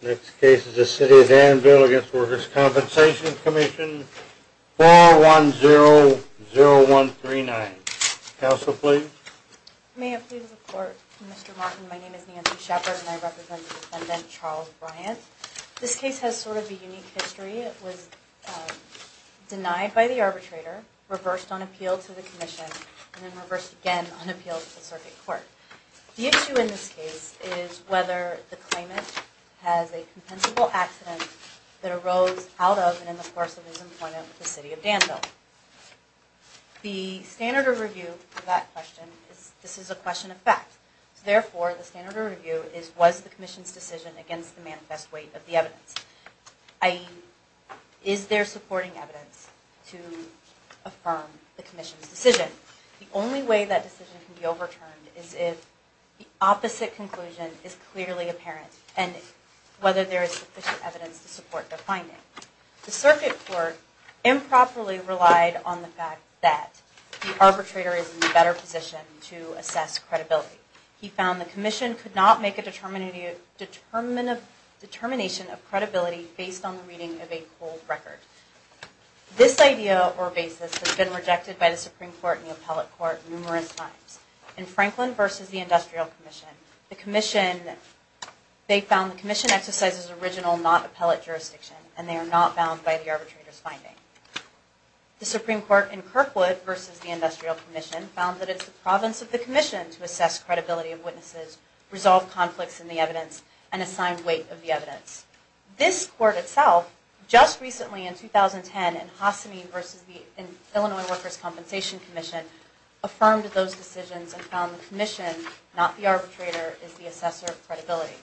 Next case is the City of Danville v. The Workers' Compensation Commission, 4100139. Counsel, please. May I please report, Mr. Martin. My name is Nancy Shepard and I represent the defendant, Charles Bryant. This case has sort of a unique history. It was denied by the arbitrator, reversed on appeal to the commission, and then reversed again on appeal to the circuit court. The issue in this case is whether the claimant has a compensable accident that arose out of and in the course of his employment with the City of Danville. The standard of review for that question is, this is a question of fact. Therefore, the standard of review is, was the commission's decision against the manifest weight of the evidence? i.e., is there supporting evidence to affirm the commission's decision? The only way that decision can be overturned is if the opposite conclusion is clearly apparent, and whether there is sufficient evidence to support the finding. The circuit court improperly relied on the fact that the arbitrator is in a better position to assess credibility. He found the commission could not make a determination of credibility based on the reading of a cold record. This idea or basis has been rejected by the Supreme Court and the appellate court numerous times. In Franklin v. The Industrial Commission, they found the commission exercises original not appellate jurisdiction, and they are not bound by the arbitrator's finding. The Supreme Court in Kirkwood v. The Industrial Commission found that it is the province of the commission to assess credibility of witnesses, resolve conflicts in the evidence, and assign weight of the evidence. This court itself, just recently in 2010 in Hossamine v. The Illinois Workers' Compensation Commission, affirmed those decisions and found the commission, not the arbitrator, is the assessor of credibility.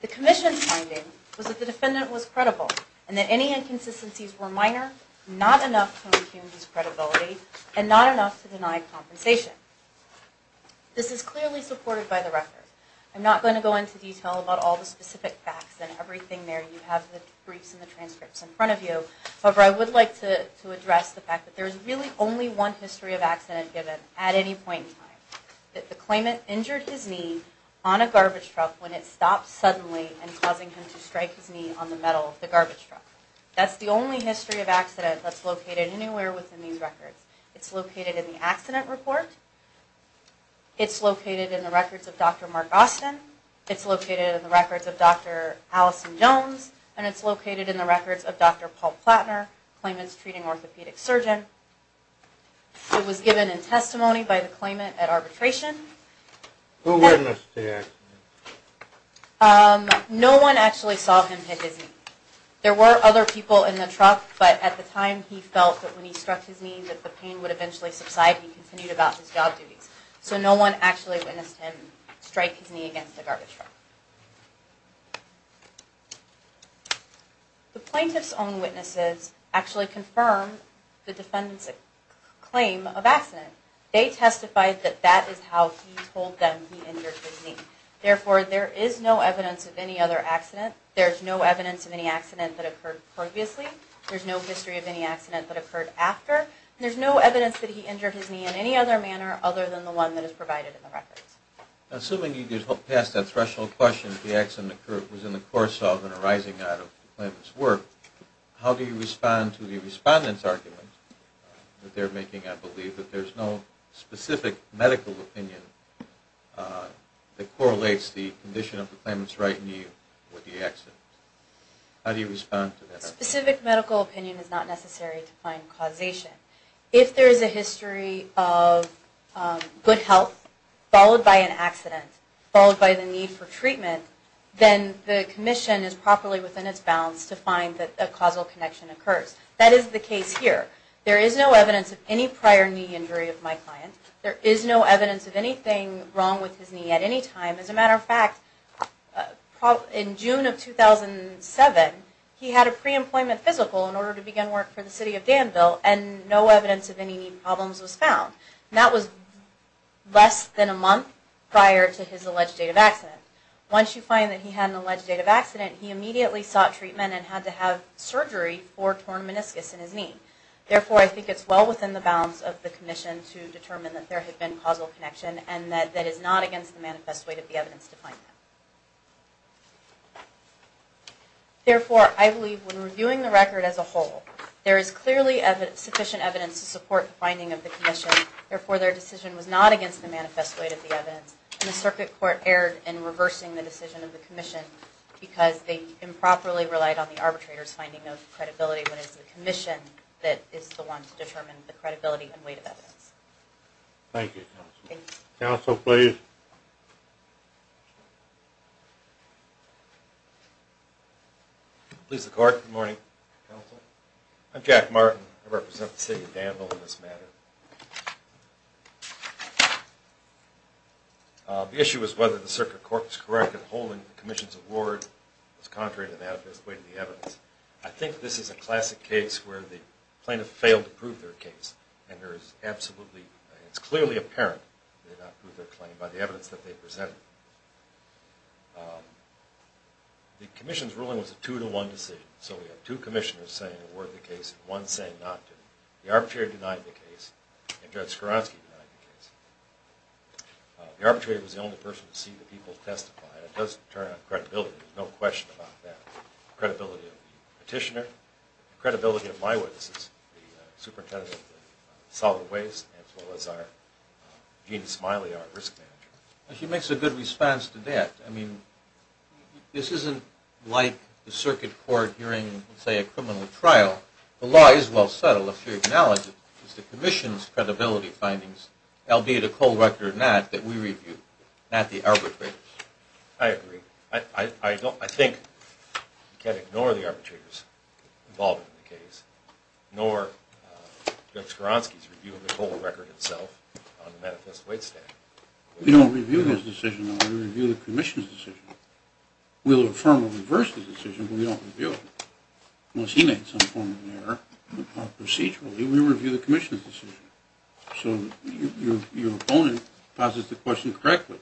The commission's finding was that the defendant was credible, and that any inconsistencies were minor, not enough to infuse credibility, and not enough to deny compensation. This is clearly supported by the record. I'm not going to go into detail about all the specific facts and everything there. You have the briefs and the transcripts in front of you. However, I would like to address the fact that there is really only one history of accident given at any point in time. That the claimant injured his knee on a garbage truck when it stopped suddenly, and causing him to strike his knee on the metal of the garbage truck. That's the only history of accident that's located anywhere within these records. It's located in the accident report. It's located in the records of Dr. Mark Austin. It's located in the records of Dr. Allison Jones. And it's located in the records of Dr. Paul Platner, the claimant's treating orthopedic surgeon. It was given in testimony by the claimant at arbitration. Who witnessed the accident? No one actually saw him hit his knee. There were other people in the truck, but at the time he felt that when he struck his knee that the pain would eventually subside. He continued about his job duties. So no one actually witnessed him strike his knee against the garbage truck. The plaintiff's own witnesses actually confirmed the defendant's claim of accident. They testified that that is how he told them he injured his knee. Therefore, there is no evidence of any other accident. There's no evidence of any accident that occurred previously. There's no history of any accident that occurred after. There's no evidence that he injured his knee in any other manner other than the one that is provided in the records. Assuming you just passed that threshold question, the accident was in the course of and arising out of the claimant's work, how do you respond to the respondent's argument that they're making, I believe, that there's no specific medical opinion that correlates the condition of the claimant's right knee with the accident? How do you respond to that? Specific medical opinion is not necessary to find causation. If there is a history of good health, followed by an accident, followed by the need for treatment, then the commission is properly within its bounds to find that a causal connection occurs. That is the case here. There is no evidence of any prior knee injury of my client. There is no evidence of anything wrong with his knee at any time. As a matter of fact, in June of 2007, he had a pre-employment physical in order to begin work for the City of Danville, and no evidence of any knee problems was found. That was less than a month prior to his alleged date of accident. Once you find that he had an alleged date of accident, he immediately sought treatment and had to have surgery for a torn meniscus in his knee. Therefore, I think it's well within the bounds of the commission to determine that there had been causal connection and that that is not against the manifest weight of the evidence to find that. Therefore, I believe when reviewing the record as a whole, there is clearly sufficient evidence to support the finding of the commission. Therefore, their decision was not against the manifest weight of the evidence, and the Circuit Court erred in reversing the decision of the commission because they improperly relied on the arbitrator's finding of credibility, when it is the commission that is the one to determine the credibility and weight of evidence. Thank you, Counsel. Counsel, please. Thank you. Please, the Court. Good morning, Counsel. I'm Jack Martin. I represent the City of Danville in this matter. The issue is whether the Circuit Court was correct in holding the commission's award was contrary to that of the manifest weight of the evidence. I think this is a classic case where the plaintiff failed to prove their case, and there is absolutely, it's clearly apparent they did not prove their claim by the evidence that they presented. The commission's ruling was a two-to-one decision, so we have two commissioners saying they awarded the case and one saying not to. The arbitrator denied the case, and Judge Skowronski denied the case. The arbitrator was the only person to see the people testify, and it does turn on credibility. There's no question about that. The credibility of the petitioner, the credibility of my witnesses, the superintendent of the solid waste, as well as our Gene Smiley, our risk manager. She makes a good response to that. I mean, this isn't like the Circuit Court hearing, say, a criminal trial. The law is well settled if you acknowledge it. It's the commission's credibility findings, albeit a cold record or not, that we review, not the arbitrator's. I agree. I think you can't ignore the arbitrator's involvement in the case, nor Judge Skowronski's review of the cold record itself on the Manifest Waste Act. We don't review his decision. We review the commission's decision. We'll affirm or reverse the decision, but we don't review it. Unless he made some form of error procedurally, we review the commission's decision. So your opponent poses the question correctly.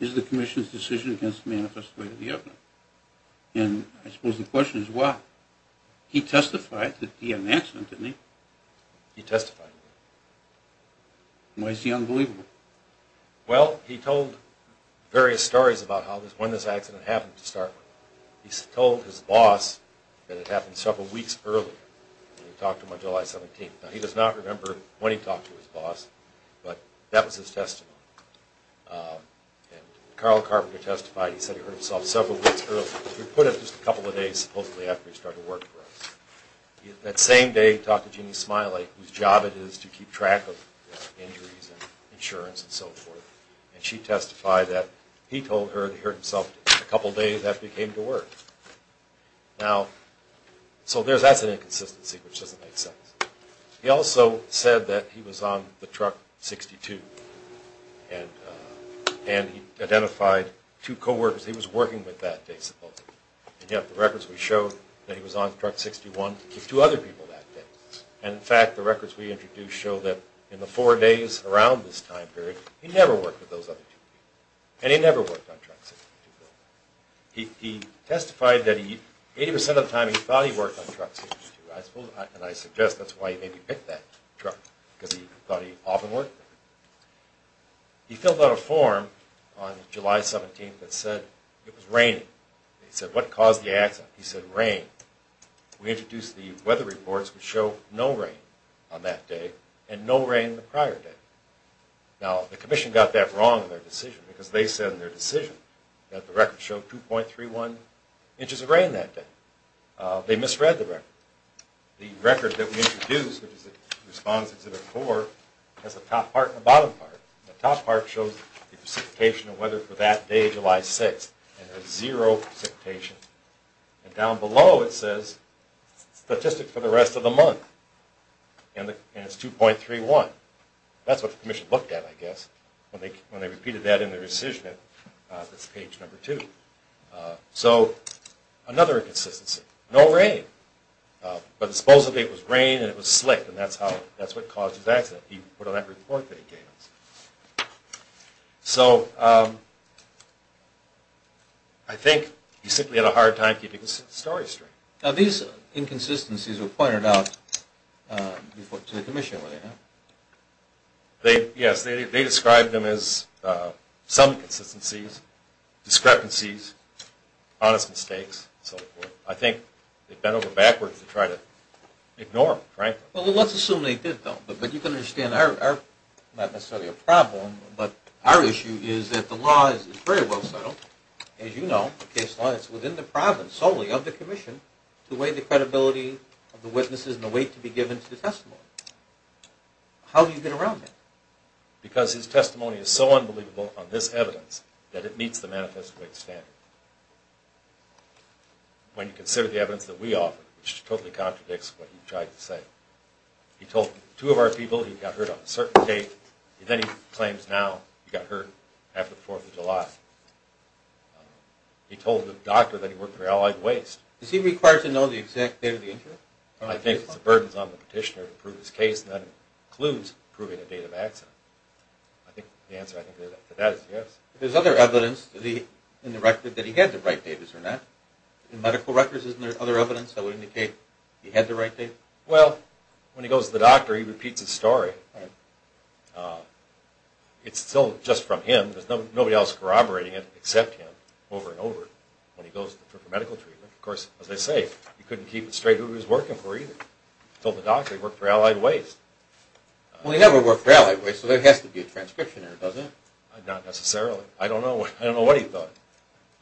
Is the commission's decision against the man who testified to the evidence? I suppose the question is why. He testified that he had an accident, didn't he? He testified. Why is he unbelievable? Well, he told various stories about when this accident happened to start with. He told his boss that it happened several weeks earlier. He talked to him on July 17th. Now, he does not remember when he talked to his boss, but that was his testimony. And Carl Carpenter testified. He said he hurt himself several weeks earlier. He was put up just a couple of days, supposedly, after he started work for us. That same day, he talked to Jeanne Smiley, whose job it is to keep track of injuries and insurance and so forth, and she testified that he told her he hurt himself a couple days after he came to work. Now, so that's an inconsistency, which doesn't make sense. He also said that he was on the Truck 62, and he identified two co-workers he was working with that day, supposedly. And yet the records would show that he was on Truck 61 with two other people that day. And, in fact, the records we introduced show that in the four days around this time period, he never worked with those other two people, and he never worked on Truck 62. He testified that 80 percent of the time he thought he worked on Truck 62, and I suggest that's why he maybe picked that truck, because he thought he often worked there. He filled out a form on July 17th that said it was raining. He said, what caused the accident? He said, rain. We introduced the weather reports, which show no rain on that day, and no rain the prior day. Now, the Commission got that wrong in their decision, because they said in their decision that the records showed 2.31 inches of rain that day. They misread the record. The record that we introduced, which responds to the four, has a top part and a bottom part. The top part shows precipitation and weather for that day, July 6th, and has zero precipitation. And down below it says statistics for the rest of the month, and it's 2.31. That's what the Commission looked at, I guess, when they repeated that in their decision. That's page number two. So another inconsistency, no rain. But supposedly it was rain and it was slick, and that's what caused his accident. He put on that report that he gave us. So I think he simply had a hard time keeping the story straight. Now, these inconsistencies were pointed out to the Commission, were they not? Yes, they described them as some inconsistencies, discrepancies, honest mistakes, and so forth. I think they bent over backwards to try to ignore them, frankly. Well, let's assume they did, though. But you can understand they're not necessarily a problem. But our issue is that the law is very well settled. As you know, the case law is within the province solely of the Commission to weigh the credibility of the witnesses and the weight to be given to the testimony. How do you get around that? Because his testimony is so unbelievable on this evidence that it meets the manifest weight standard. When you consider the evidence that we offer, which totally contradicts what he tried to say, he told two of our people he got hurt on a certain date, and then he claims now he got hurt after the 4th of July. He told the doctor that he worked for Allied Waste. Is he required to know the exact date of the injury? I think it's the burdens on the petitioner to prove his case, and that includes proving a date of accident. I think the answer to that is yes. There's other evidence in the record that he had the right date, is there not? In medical records, isn't there other evidence that would indicate he had the right date? Well, when he goes to the doctor, he repeats his story. It's still just from him. There's nobody else corroborating it except him over and over when he goes for medical treatment. Of course, as I say, he couldn't keep it straight who he was working for either. He told the doctor he worked for Allied Waste. Well, he never worked for Allied Waste, so there has to be a transcription error, doesn't it? Not necessarily. I don't know what he thought.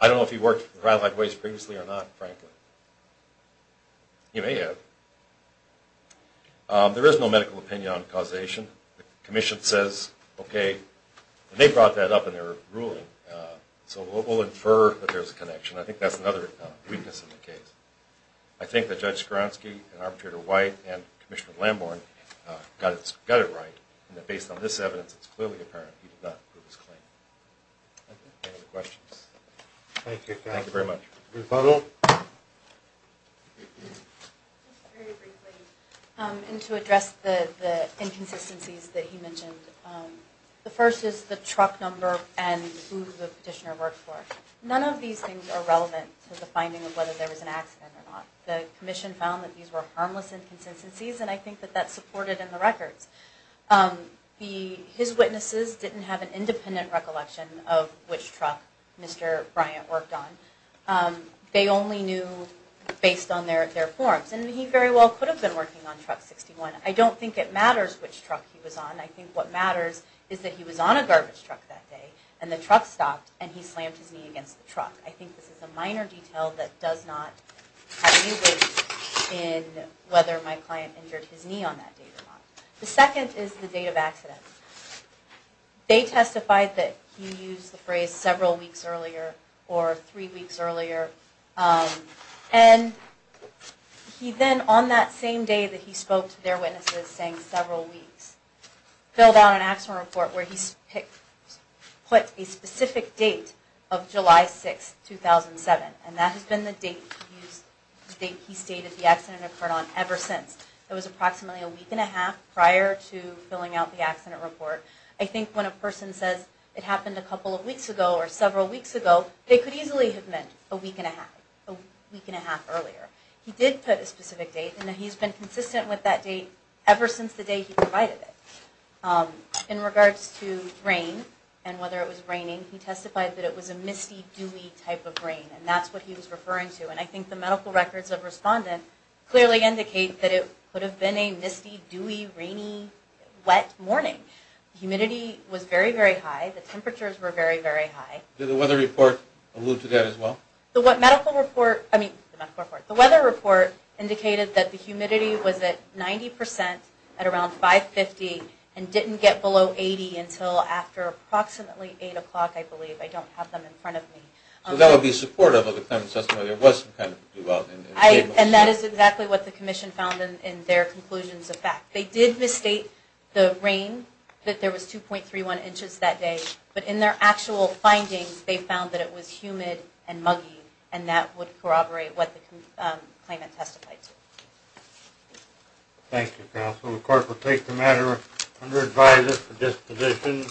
I don't know if he worked for Allied Waste previously or not, frankly. He may have. There is no medical opinion on causation. The commission says, okay, they brought that up in their ruling, so we'll infer that there's a connection. I think that's another weakness in the case. I think that Judge Skowronski and Arbitrator White and Commissioner Lamborn got it right, and that based on this evidence, it's clearly apparent he did not prove his claim. Any other questions? Thank you, guys. Thank you very much. Rebuttal. Just very briefly, and to address the inconsistencies that he mentioned, the first is the truck number and who the petitioner worked for. None of these things are relevant to the finding of whether there was an accident or not. The commission found that these were harmless inconsistencies, and I think that that's supported in the records. His witnesses didn't have an independent recollection of which truck Mr. Bryant worked on. They only knew based on their forms, and he very well could have been working on Truck 61. I don't think it matters which truck he was on. I think what matters is that he was on a garbage truck that day, and the truck stopped, and he slammed his knee against the truck. I think this is a minor detail that does not have any weight in whether my client injured his knee on that day or not. The second is the date of accident. They testified that he used the phrase several weeks earlier or three weeks earlier, and he then, on that same day that he spoke to their witnesses saying several weeks, filled out an accident report where he put a specific date of July 6, 2007, and that has been the date he stated the accident occurred on ever since. It was approximately a week and a half prior to filling out the accident report. I think when a person says it happened a couple of weeks ago or several weeks ago, they could easily have meant a week and a half, a week and a half earlier. He did put a specific date, and he's been consistent with that date ever since the day he provided it. In regards to rain and whether it was raining, he testified that it was a misty, dewy type of rain, and that's what he was referring to, and I think the medical records of the respondent clearly indicate that it could have been a misty, dewy, rainy, wet morning. The humidity was very, very high. The temperatures were very, very high. Did the weather report allude to that as well? The weather report indicated that the humidity was at 90% at around 550 and didn't get below 80 until after approximately 8 o'clock, I believe. I don't have them in front of me. So that would be supportive of the claimant's testimony. It wasn't kind of debunked. And that is exactly what the commission found in their conclusions of fact. They did misstate the rain, that there was 2.31 inches that day, but in their actual findings, they found that it was humid and muggy, and that would corroborate what the claimant testified to. Thank you, counsel. The court will take the matter under advisory for disposition.